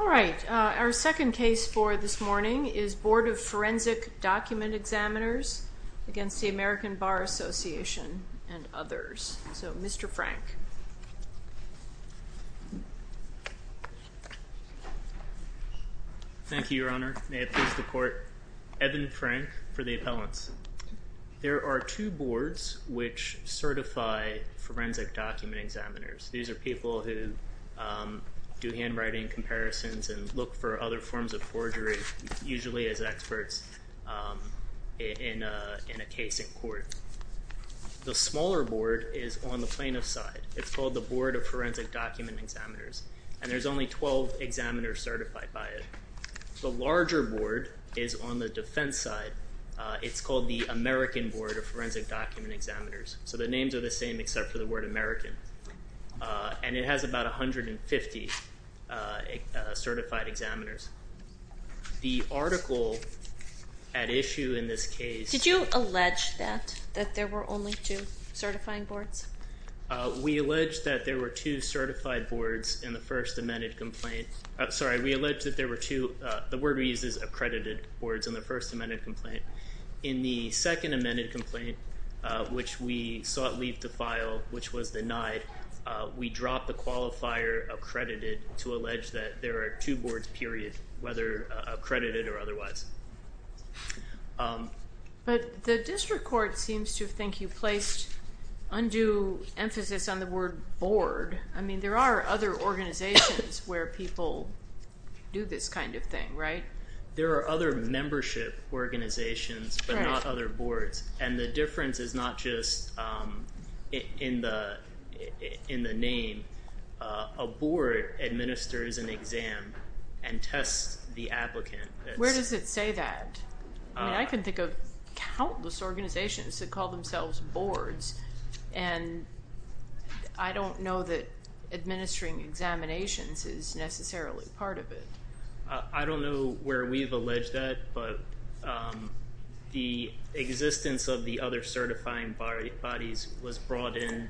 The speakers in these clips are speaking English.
All right, our second case for this morning is Board of Forensic Document Examiners against the American Bar Association and others. So Mr. Frank. Thank you, Your Honor. May it please the Court. Evan Frank for the appellants. There are two boards which certify forensic document examiners. These are people who do handwriting comparisons and look for other forms of forgery, usually as experts in a case in court. The smaller board is on the plaintiff's side. It's called the Board of Forensic Document Examiners, and there's only 12 examiners certified by it. The larger board is on the defense side. It's called the American Board of Forensic Document Examiners. So the names are the same except for the word American. And it has about 150 certified examiners. The article at issue in this case. Did you allege that, that there were only two certifying boards? We allege that there were two certified boards in the first amended complaint. Sorry, we allege that there were two, the word we use is accredited boards, in the first amended complaint. In the second amended complaint, which we sought leave to file, which was denied, we dropped the qualifier accredited to allege that there are two boards, period, whether accredited or otherwise. But the district court seems to think you placed undue emphasis on the word board. I mean, there are other organizations where people do this kind of thing, right? There are other membership organizations, but not other boards. And the difference is not just in the name. A board administers an exam and tests the applicant. Where does it say that? I mean, I can think of countless organizations that call themselves boards. And I don't know that administering examinations is necessarily part of it. I don't know where we've alleged that, but the existence of the other certifying bodies was brought in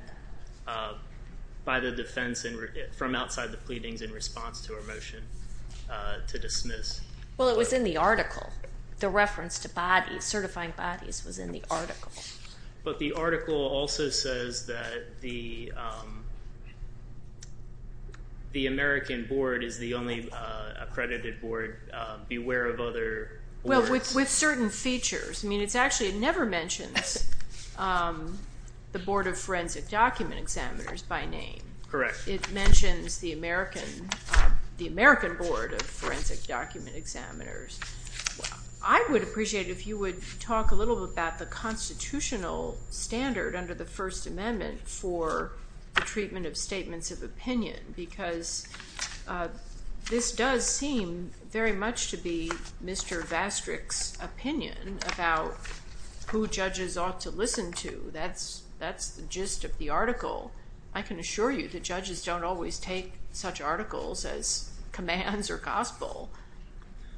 by the defense from outside the pleadings in response to our motion to dismiss. Well, it was in the article. The reference to bodies, certifying bodies, was in the article. But the article also says that the American board is the only accredited board, beware of other words. Well, with certain features. I mean, it's actually, it never mentions the Board of Forensic Document Examiners by name. Correct. It mentions the American Board of Forensic Document Examiners. Well, I would appreciate it if you would talk a little about the constitutional standard under the First Amendment for the treatment of statements of opinion, because this does seem very much to be Mr. Vastrick's opinion about who judges ought to listen to. That's the gist of the article. I can assure you that judges don't always take such articles as commands or gospel.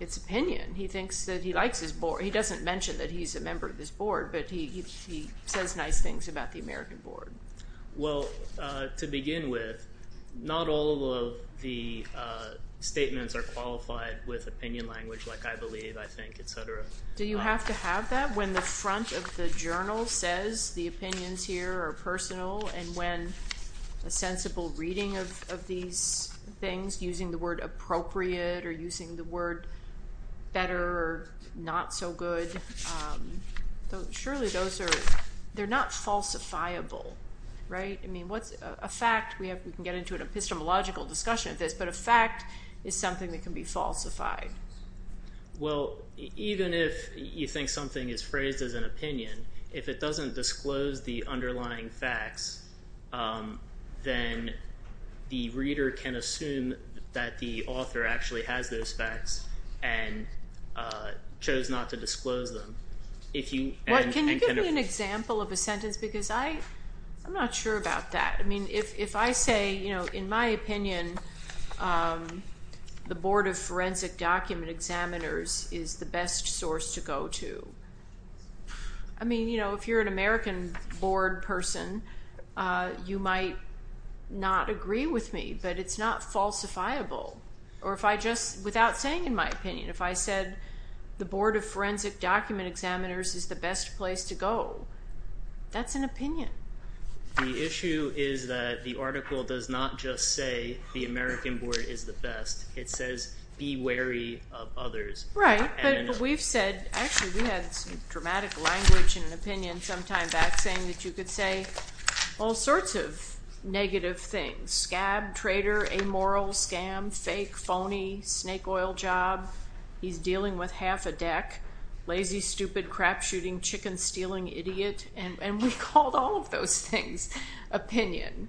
It's opinion. He thinks that he likes his board. He doesn't mention that he's a member of this board, but he says nice things about the American board. Well, to begin with, not all of the statements are qualified with opinion language, like I believe, I think, et cetera. Do you have to have that when the front of the journal says the opinions here are personal and when a sensible reading of these things using the word appropriate or using the word better or not so good, surely those are, they're not falsifiable, right? I mean, what's a fact, we can get into an epistemological discussion of this, but a fact is something that can be falsified. Well, even if you think something is phrased as an opinion, if it doesn't disclose the facts, then the reader can assume that the author actually has those facts and chose not to disclose them. If you- Can you give me an example of a sentence because I'm not sure about that. I mean, if I say, in my opinion, the board of forensic document examiners is the best source to go to. I mean, if you're an American board person, you might not agree with me, but it's not falsifiable or if I just, without saying in my opinion, if I said the board of forensic document examiners is the best place to go, that's an opinion. The issue is that the article does not just say the American board is the best, it says be wary of others. Right, but we've said, actually we had some dramatic language in an opinion sometime back saying that you could say all sorts of negative things. Scab, traitor, amoral, scam, fake, phony, snake oil job, he's dealing with half a deck, lazy, stupid, crap shooting, chicken stealing, idiot, and we called all of those things opinion.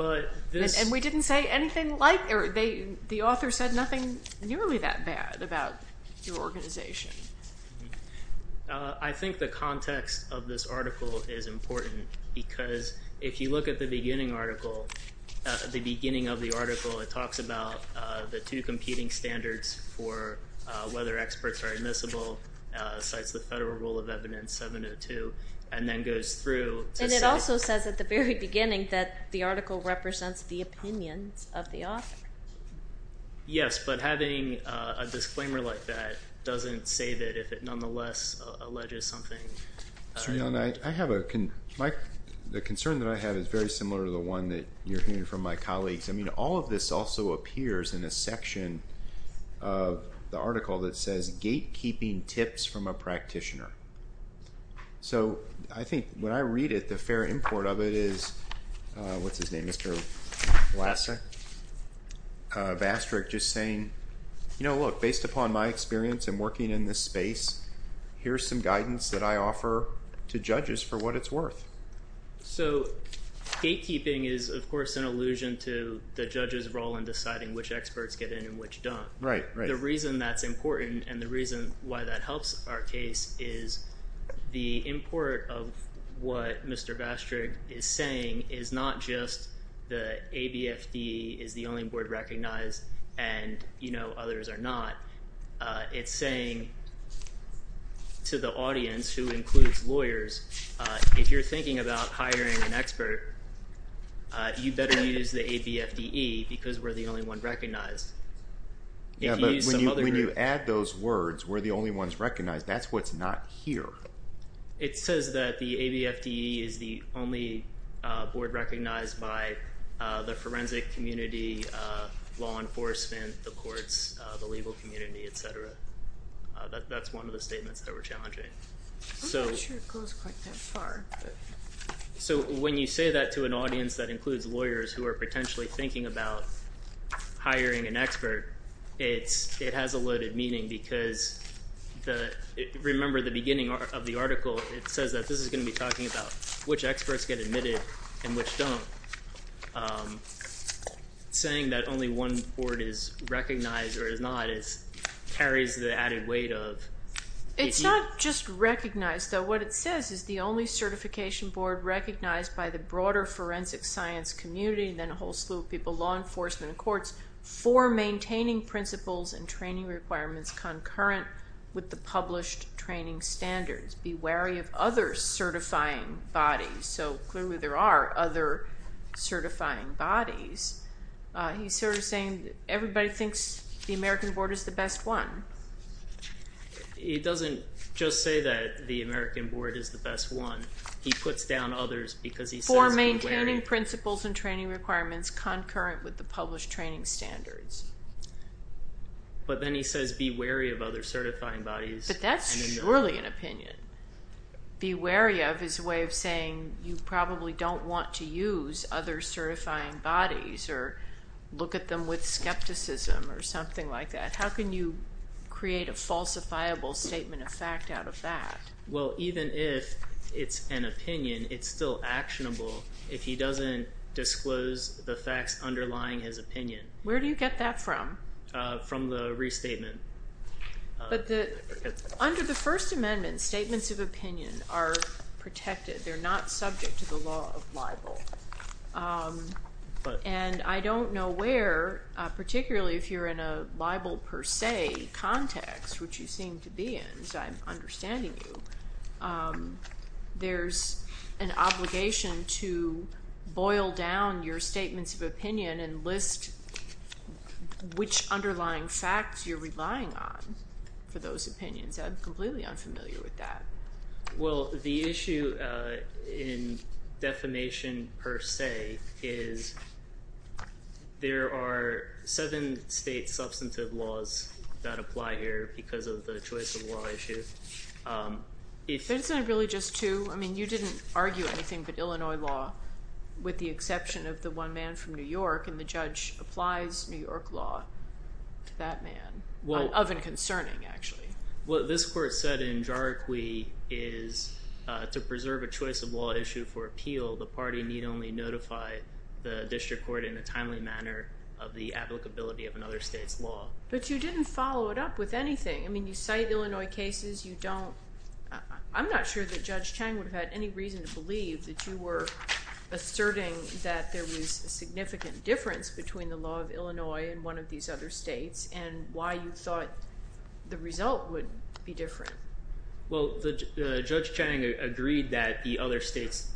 And we didn't say anything like, or the author said nothing nearly that bad about your organization. I think the context of this article is important because if you look at the beginning article, the beginning of the article, it talks about the two competing standards for whether experts are admissible, cites the Federal Rule of Evidence 702, and then goes through to say... Meaning that the article represents the opinions of the author. Yes, but having a disclaimer like that doesn't say that if it nonetheless alleges something... Sreenan, I have a, the concern that I have is very similar to the one that you're hearing from my colleagues. I mean, all of this also appears in a section of the article that says gatekeeping tips from a practitioner. So, I think when I read it, the fair import of it is, what's his name, Mr. Vlasic, Bastrick, just saying, you know, look, based upon my experience in working in this space, here's some guidance that I offer to judges for what it's worth. So gatekeeping is, of course, an allusion to the judge's role in deciding which experts get in and which don't. Right, right. I think the reason that's important and the reason why that helps our case is the import of what Mr. Bastrick is saying is not just the ABFDE is the only board recognized and, you know, others are not. It's saying to the audience, who includes lawyers, if you're thinking about hiring an expert, you better use the ABFDE because we're the only one recognized. Yeah, but when you add those words, we're the only ones recognized, that's what's not here. It says that the ABFDE is the only board recognized by the forensic community, law enforcement, the courts, the legal community, etc. That's one of the statements that we're challenging. So I'm not sure it goes quite that far. So when you say that to an audience that includes lawyers who are potentially thinking about hiring an expert, it has a loaded meaning because, remember the beginning of the article, it says that this is going to be talking about which experts get admitted and which don't. Saying that only one board is recognized or is not carries the added weight of... It's not just recognized, though. What it says is the only certification board recognized by the broader forensic science community, then a whole slew of people, law enforcement and courts, for maintaining principles and training requirements concurrent with the published training standards. Be wary of other certifying bodies. So clearly there are other certifying bodies. He's sort of saying that everybody thinks the American board is the best one. It doesn't just say that the American board is the best one, he puts down others because he says be wary. For maintaining principles and training requirements concurrent with the published training standards. But then he says be wary of other certifying bodies. But that's surely an opinion. Be wary of is a way of saying you probably don't want to use other certifying bodies or look at them with skepticism or something like that. How can you create a falsifiable statement of fact out of that? Well, even if it's an opinion, it's still actionable if he doesn't disclose the facts underlying his opinion. Where do you get that from? From the restatement. But under the First Amendment, statements of opinion are protected. They're not subject to the law of libel. And I don't know where, particularly if you're in a libel per se context, which you seem to be in, as I'm understanding you, there's an obligation to boil down your statements of opinion and list which underlying facts you're relying on for those opinions. I'm completely unfamiliar with that. Well, the issue in defamation per se is there are seven state substantive laws that apply here because of the choice of law issue. But isn't it really just two? You didn't argue anything but Illinois law, with the exception of the one man from New York, and the judge applies New York law to that man, of and concerning, actually. What this court said in Jarikwi is to preserve a choice of law issue for appeal, the party need only notify the district court in a timely manner of the applicability of another state's law. But you didn't follow it up with anything. I mean, you cite Illinois cases. You don't, I'm not sure that Judge Chang would have had any reason to believe that you were asserting that there was a significant difference between the law of Illinois and one of these other states, and why you thought the result would be different. Well, Judge Chang agreed that the other state's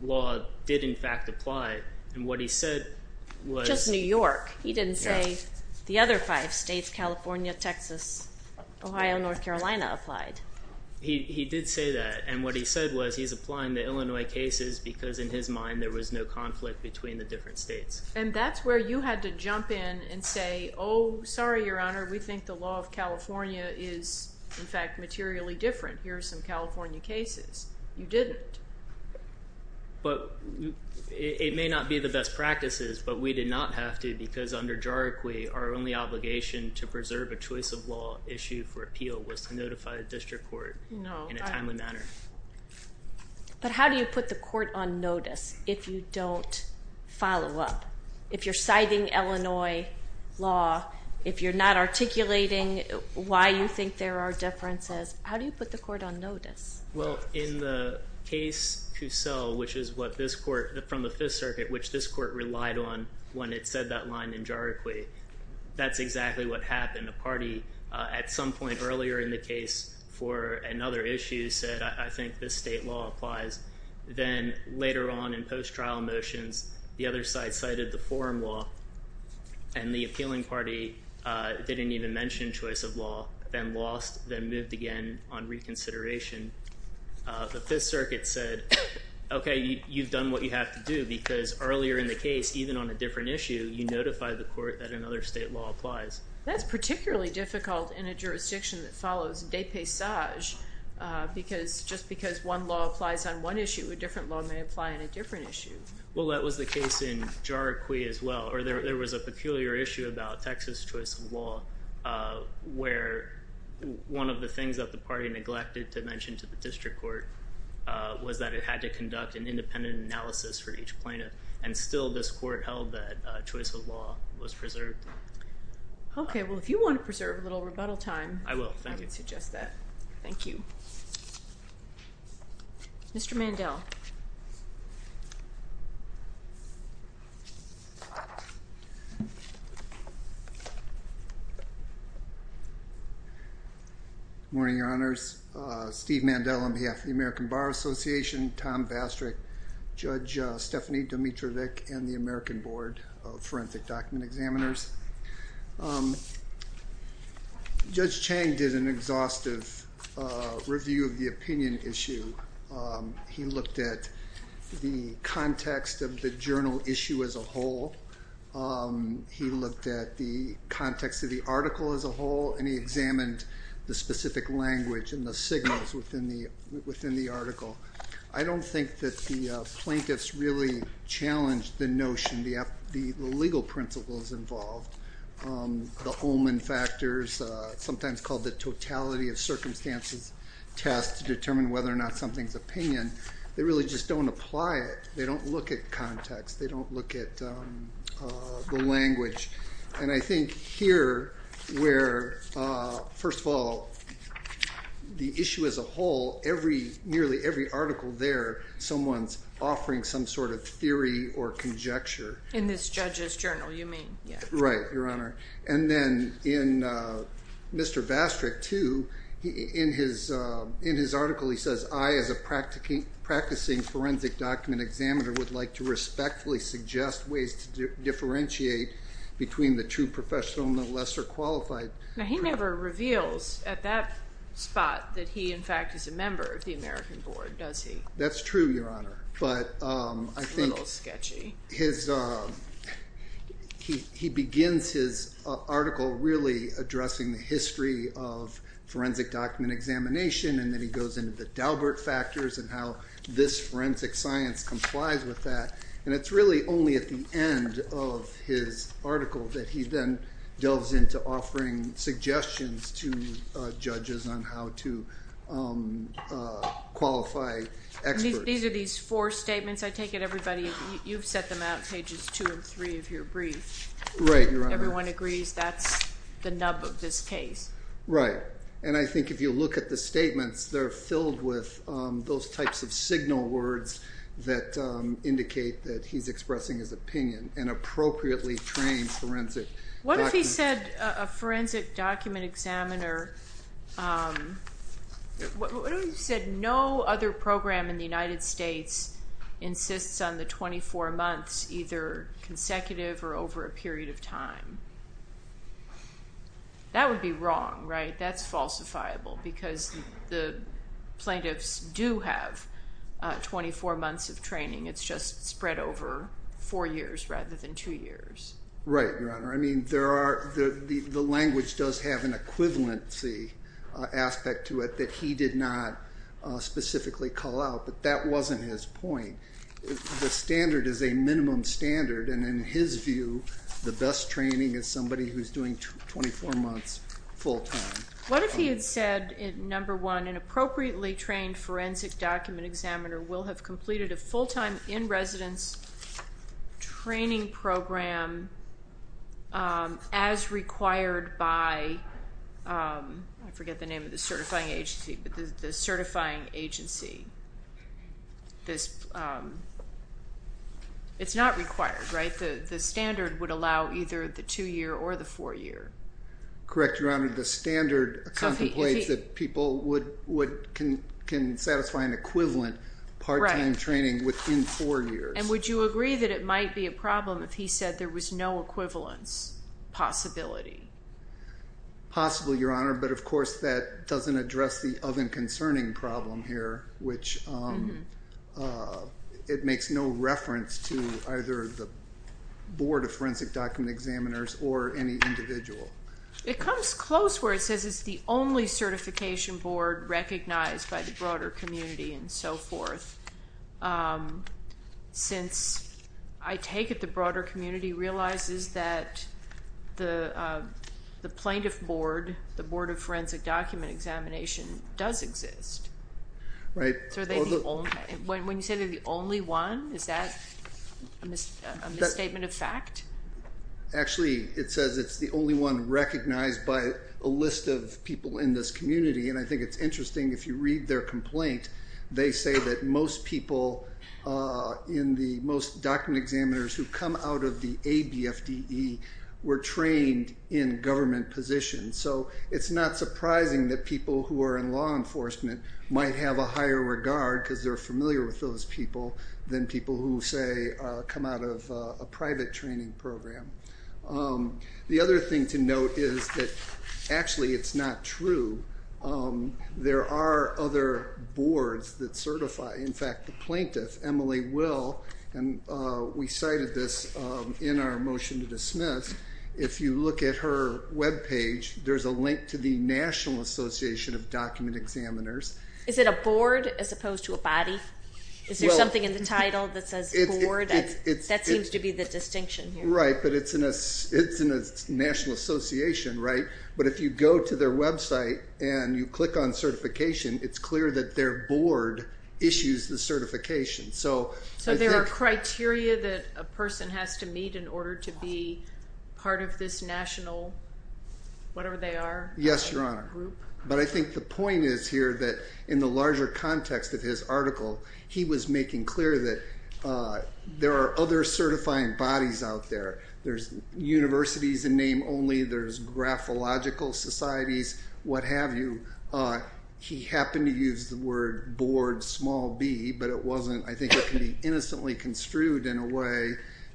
law did in fact apply, and what he said was Just New York. He didn't say the other five states, California, Texas, Ohio, North Carolina applied. He did say that, and what he said was he's applying the Illinois cases because in his mind there was no conflict between the different states. And that's where you had to jump in and say, oh, sorry, Your Honor, we think the law of California is in fact materially different. Here are some California cases. You didn't. But it may not be the best practices, but we did not have to because under JARAQUI, our only obligation to preserve a choice of law issue for appeal was to notify a district court in a timely manner. But how do you put the court on notice if you don't follow up? If you're citing Illinois law, if you're not articulating why you think there are differences, how do you put the court on notice? Well, in the case Cusel, which is what this court, from the Fifth Circuit, which this court relied on when it said that line in JARAQUI, that's exactly what happened. A party at some point earlier in the case for another issue said, I think this state law applies. Then later on in post-trial motions, the other side cited the forum law, and the appealing the Fifth Circuit said, okay, you've done what you have to do because earlier in the case, even on a different issue, you notify the court that another state law applies. That's particularly difficult in a jurisdiction that follows de paysage because just because one law applies on one issue, a different law may apply on a different issue. Well, that was the case in JARAQUI as well, or there was a peculiar issue about Texas choice of law where one of the things that the party neglected to mention to the district court was that it had to conduct an independent analysis for each plaintiff, and still this court held that choice of law was preserved. Okay. Well, if you want to preserve a little rebuttal time- I will. Thank you. I would suggest that. Thank you. Mr. Mandel. Good morning, Your Honors. Steve Mandel on behalf of the American Bar Association, Tom Vastrick, Judge Stephanie Dimitrovic, and the American Board of Forensic Document Examiners. Judge Chang did an exhaustive review of the opinion issue. He looked at the context of the journal issue as a whole. He looked at the context of the article as a whole, and he examined the specific language and the signals within the article. I don't think that the plaintiffs really challenged the notion, the legal principles involved, the Holman factors, sometimes called the totality of circumstances test to determine whether or not something's opinion. They really just don't apply it. They don't look at context. They don't look at the language. And I think here, where, first of all, the issue as a whole, nearly every article there, someone's offering some sort of theory or conjecture. In this judge's journal, you mean? Right, Your Honor. And then in Mr. Vastrick, too, in his article, he says, I, as a practicing forensic document examiner, would like to respectfully suggest ways to differentiate between the true professional and the lesser qualified. Now, he never reveals at that spot that he, in fact, is a member of the American Board, does he? That's true, Your Honor. It's a little sketchy. But he begins his article really addressing the history of forensic document examination, and then he goes into the Daubert factors and how this forensic science complies with that. And it's really only at the end of his article that he then delves into offering suggestions to judges on how to qualify experts. These are these four statements? I take it everybody, you've set them out, pages two and three of your brief. Right, Your Honor. Everyone agrees that's the nub of this case? Right. And I think if you look at the statements, they're filled with those types of signal words that indicate that he's expressing his opinion, an appropriately trained forensic document. What if he said, a forensic document examiner, what if he said, no other program in the United States insists on the 24 months, either consecutive or over a period of time? That would be wrong, right? That's falsifiable, because the plaintiffs do have 24 months of training. It's just spread over four years rather than two years. Right, Your Honor. I mean, the language does have an equivalency aspect to it that he did not specifically call out. But that wasn't his point. The standard is a minimum standard, and in his view, the best training is somebody who's doing 24 months full-time. What if he had said, number one, an appropriately trained forensic document examiner will have completed a full-time in-residence training program as required by, I forget the name of the certifying agency, but the certifying agency. It's not required, right? The standard would allow either the two-year or the four-year. Correct, Your Honor. The standard contemplates that people can satisfy an equivalent part-time training within four years. And would you agree that it might be a problem if he said there was no equivalence possibility? Possibly, Your Honor, but of course that doesn't address the of and concerning problem here, which it makes no reference to either the Board of Forensic Document Examiners or any individual. It comes close where it says it's the only certification board recognized by the broader community and so forth. Since I take it the broader community realizes that the Plaintiff Board, the Board of Forensic Document Examination does exist. Right. So are they the only, when you say they're the only one, is that a misstatement of fact? Actually it says it's the only one recognized by a list of people in this community and I think it's interesting if you read their complaint, they say that most people in the most document examiners who come out of the ABFDE were trained in government positions. So it's not surprising that people who are in law enforcement might have a higher regard because they're familiar with those people than people who say come out of a private training program. The other thing to note is that actually it's not true. There are other boards that certify, in fact the Plaintiff, Emily Will, and we cited this in our motion to dismiss, if you look at her webpage there's a link to the National Association of Document Examiners. Is it a board as opposed to a body? Is there something in the title that says board? That seems to be the distinction here. I think you're right, but it's in a national association, right? But if you go to their website and you click on certification, it's clear that their board issues the certification. So there are criteria that a person has to meet in order to be part of this national, whatever they are? Yes, Your Honor. But I think the point is here that in the larger context of his article, he was making clear that there are other certifying bodies out there. There's universities in name only, there's graphological societies, what have you. He happened to use the word board, small B, but it wasn't, I think it can be innocently construed in a way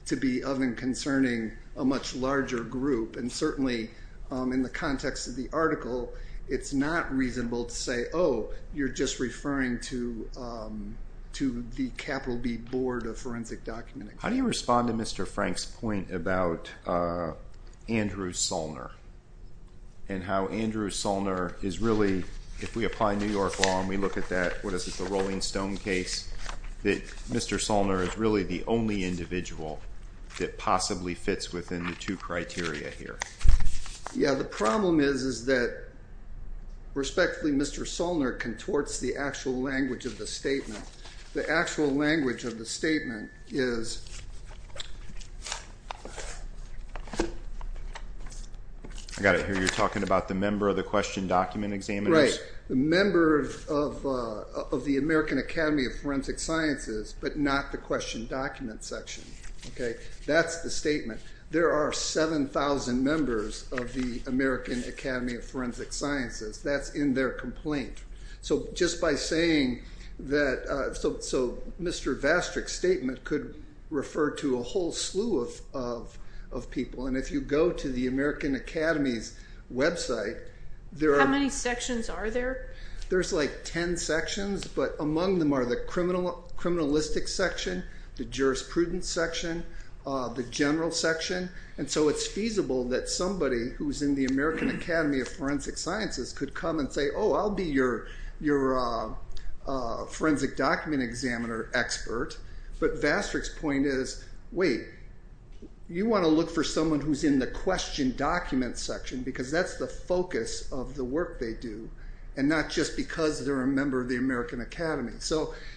to be of and concerning a much larger group. And certainly in the context of the article, it's not reasonable to say, oh, you're just a forensic document. How do you respond to Mr. Frank's point about Andrew Solner and how Andrew Solner is really, if we apply New York law and we look at that, what is this, the Rolling Stone case, that Mr. Solner is really the only individual that possibly fits within the two criteria here? Yeah. The problem is that, respectfully, Mr. Solner contorts the actual language of the statement. The actual language of the statement is... I've got to hear, you're talking about the member of the question document examiner? Right. The member of the American Academy of Forensic Sciences, but not the question document section. Okay? That's the statement. There are 7,000 members of the American Academy of Forensic Sciences. That's in their complaint. So just by saying that... So Mr. Vastrick's statement could refer to a whole slew of people. And if you go to the American Academy's website, there are... How many sections are there? There's like 10 sections, but among them are the criminalistic section, the jurisprudence section, the general section. And so it's feasible that somebody who's in the American Academy of Forensic Sciences could come and say, oh, I'll be your forensic document examiner expert. But Vastrick's point is, wait, you want to look for someone who's in the question document section because that's the focus of the work they do, and not just because they're a member of the American Academy.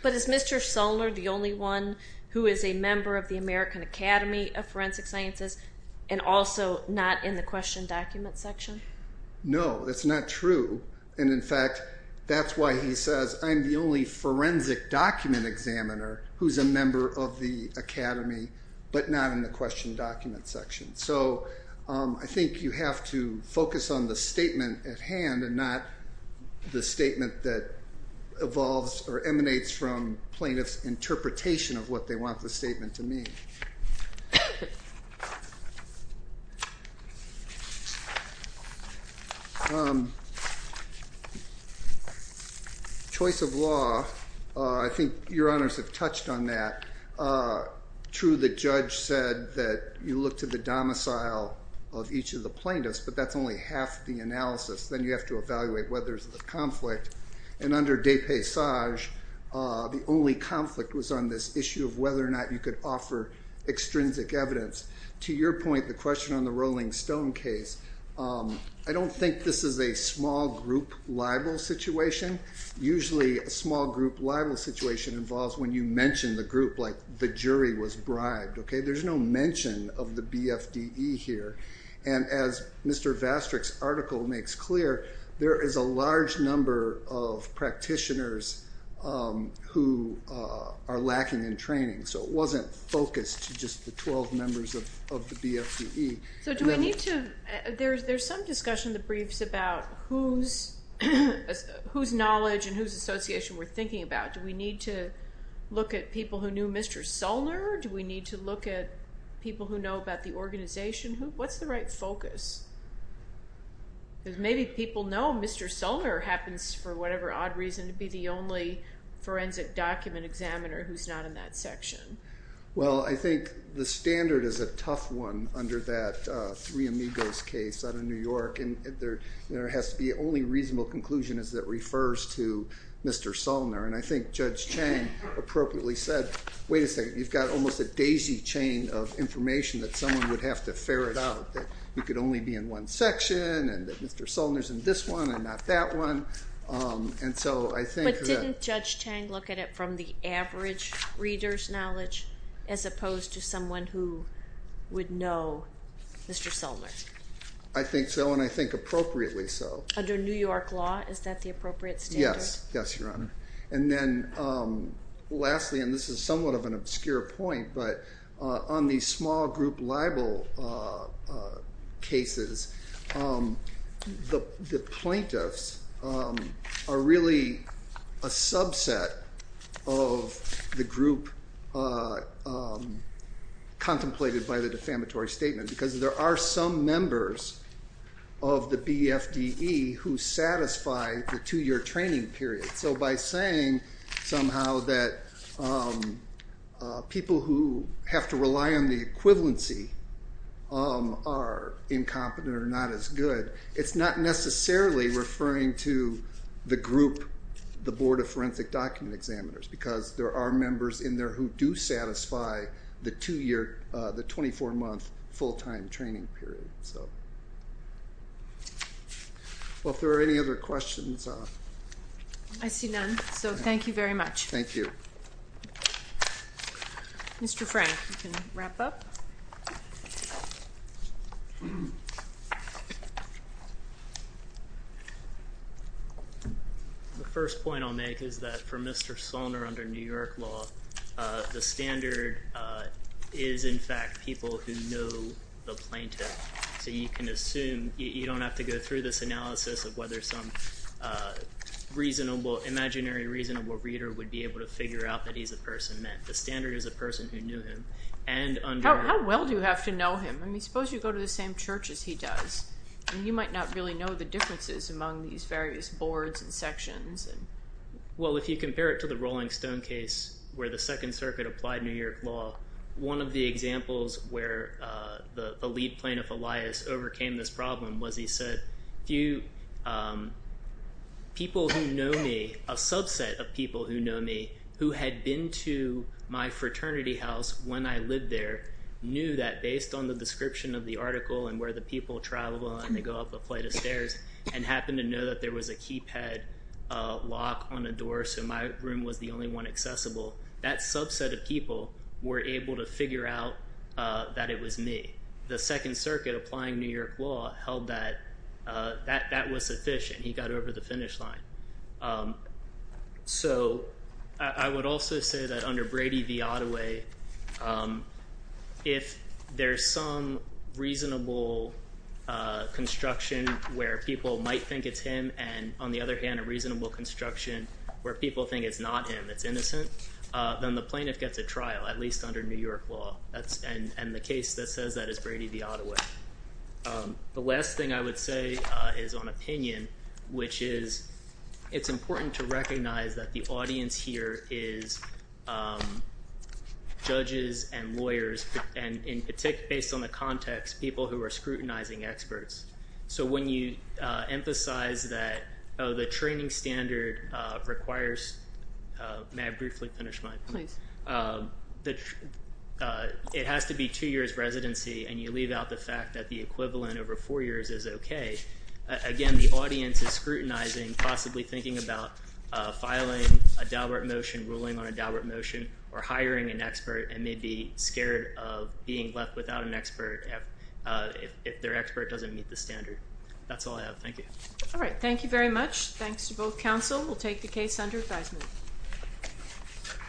But is Mr. Solner the only one who is a member of the American Academy of Forensic Sciences and also not in the question document section? No. That's not true. And in fact, that's why he says, I'm the only forensic document examiner who's a member of the academy, but not in the question document section. So I think you have to focus on the statement at hand and not the statement that evolves or emanates from plaintiff's interpretation of what they want the statement to mean. Choice of law, I think your honors have touched on that. True the judge said that you look to the domicile of each of the plaintiffs, but that's only half the analysis. Then you have to evaluate whether there's a conflict. And under De Passage, the only conflict was on this issue of whether or not you could offer extrinsic evidence. To your point, the question on the Rolling Stone case, I don't think this is a small group libel situation. Usually a small group libel situation involves when you mention the group, like the jury was bribed. There's no mention of the BFDE here. And as Mr. Vastrick's article makes clear, there is a large number of practitioners who are lacking in training. So it wasn't focused to just the 12 members of the BFDE. So do we need to, there's some discussion in the briefs about whose knowledge and whose association we're thinking about. Do we need to look at people who knew Mr. Solner? Do we need to look at people who know about the organization? What's the right focus? Maybe people know Mr. Solner happens, for whatever odd reason, to be the only forensic document examiner who's not in that section. Well I think the standard is a tough one under that Three Amigos case out of New York. There has to be only reasonable conclusion that refers to Mr. Solner. And I think Judge Chang appropriately said, wait a second, you've got almost a daisy chain of information that someone would have to ferret out, that you could only be in one section and that Mr. Solner's in this one and not that one. And so I think that- But didn't Judge Chang look at it from the average reader's knowledge, as opposed to someone who would know Mr. Solner? I think so, and I think appropriately so. Under New York law, is that the appropriate standard? Yes. Yes, Your Honor. And then lastly, and this is somewhat of an obscure point, but on the small group libel cases, the plaintiffs are really a subset of the group contemplated by the defamatory statement, because there are some members of the BFDE who satisfy the two-year training period. So by saying somehow that people who have to rely on the equivalency are incompetent or not as good, it's not necessarily referring to the group, the Board of Forensic Document Examiners, because there are members in there who do satisfy the 24-month full-time training period. Well, if there are any other questions- I see none. So thank you very much. Thank you. Mr. Frank, you can wrap up. The first point I'll make is that for Mr. Solner, under New York law, the standard is in fact people who know the plaintiff. So you can assume, you don't have to go through this analysis of whether some imaginary reasonable reader would be able to figure out that he's a person meant. The standard is a person who knew him. How well do you have to know him? I mean, suppose you go to the same church as he does, and you might not really know the differences among these various boards and sections. Well, if you compare it to the Rolling Stone case where the Second Circuit applied New York law, one of the examples where the lead plaintiff, Elias, overcame this problem was he said, people who know me, a subset of people who know me, who had been to my fraternity house when I lived there, knew that based on the description of the article and where the people travel, and they go up a flight of stairs, and happened to know that there was a keypad lock on a door, so my room was the only one accessible. That subset of people were able to figure out that it was me. The Second Circuit applying New York law held that that was sufficient. He got over the finish line. So I would also say that under Brady v. Ottaway, if there's some reasonable construction where people might think it's him, and on the other hand, a reasonable construction where people think it's not him, it's innocent, then the plaintiff gets a trial, at least under New York law, and the case that says that is Brady v. Ottaway. The last thing I would say is on opinion, which is it's important to recognize that the audience here is judges and lawyers, and based on the context, people who are scrutinizing experts. So when you emphasize that, oh, the training standard requires, may I briefly finish my point? Please. It has to be two years residency, and you leave out the fact that the equivalent over four years is okay. Again, the audience is scrutinizing, possibly thinking about filing a Daubert motion, ruling on a Daubert motion, or hiring an expert, and may be scared of being left without an That's all I have. Thank you. All right. Thank you very much. Thanks to both council. We'll take the case under advisement.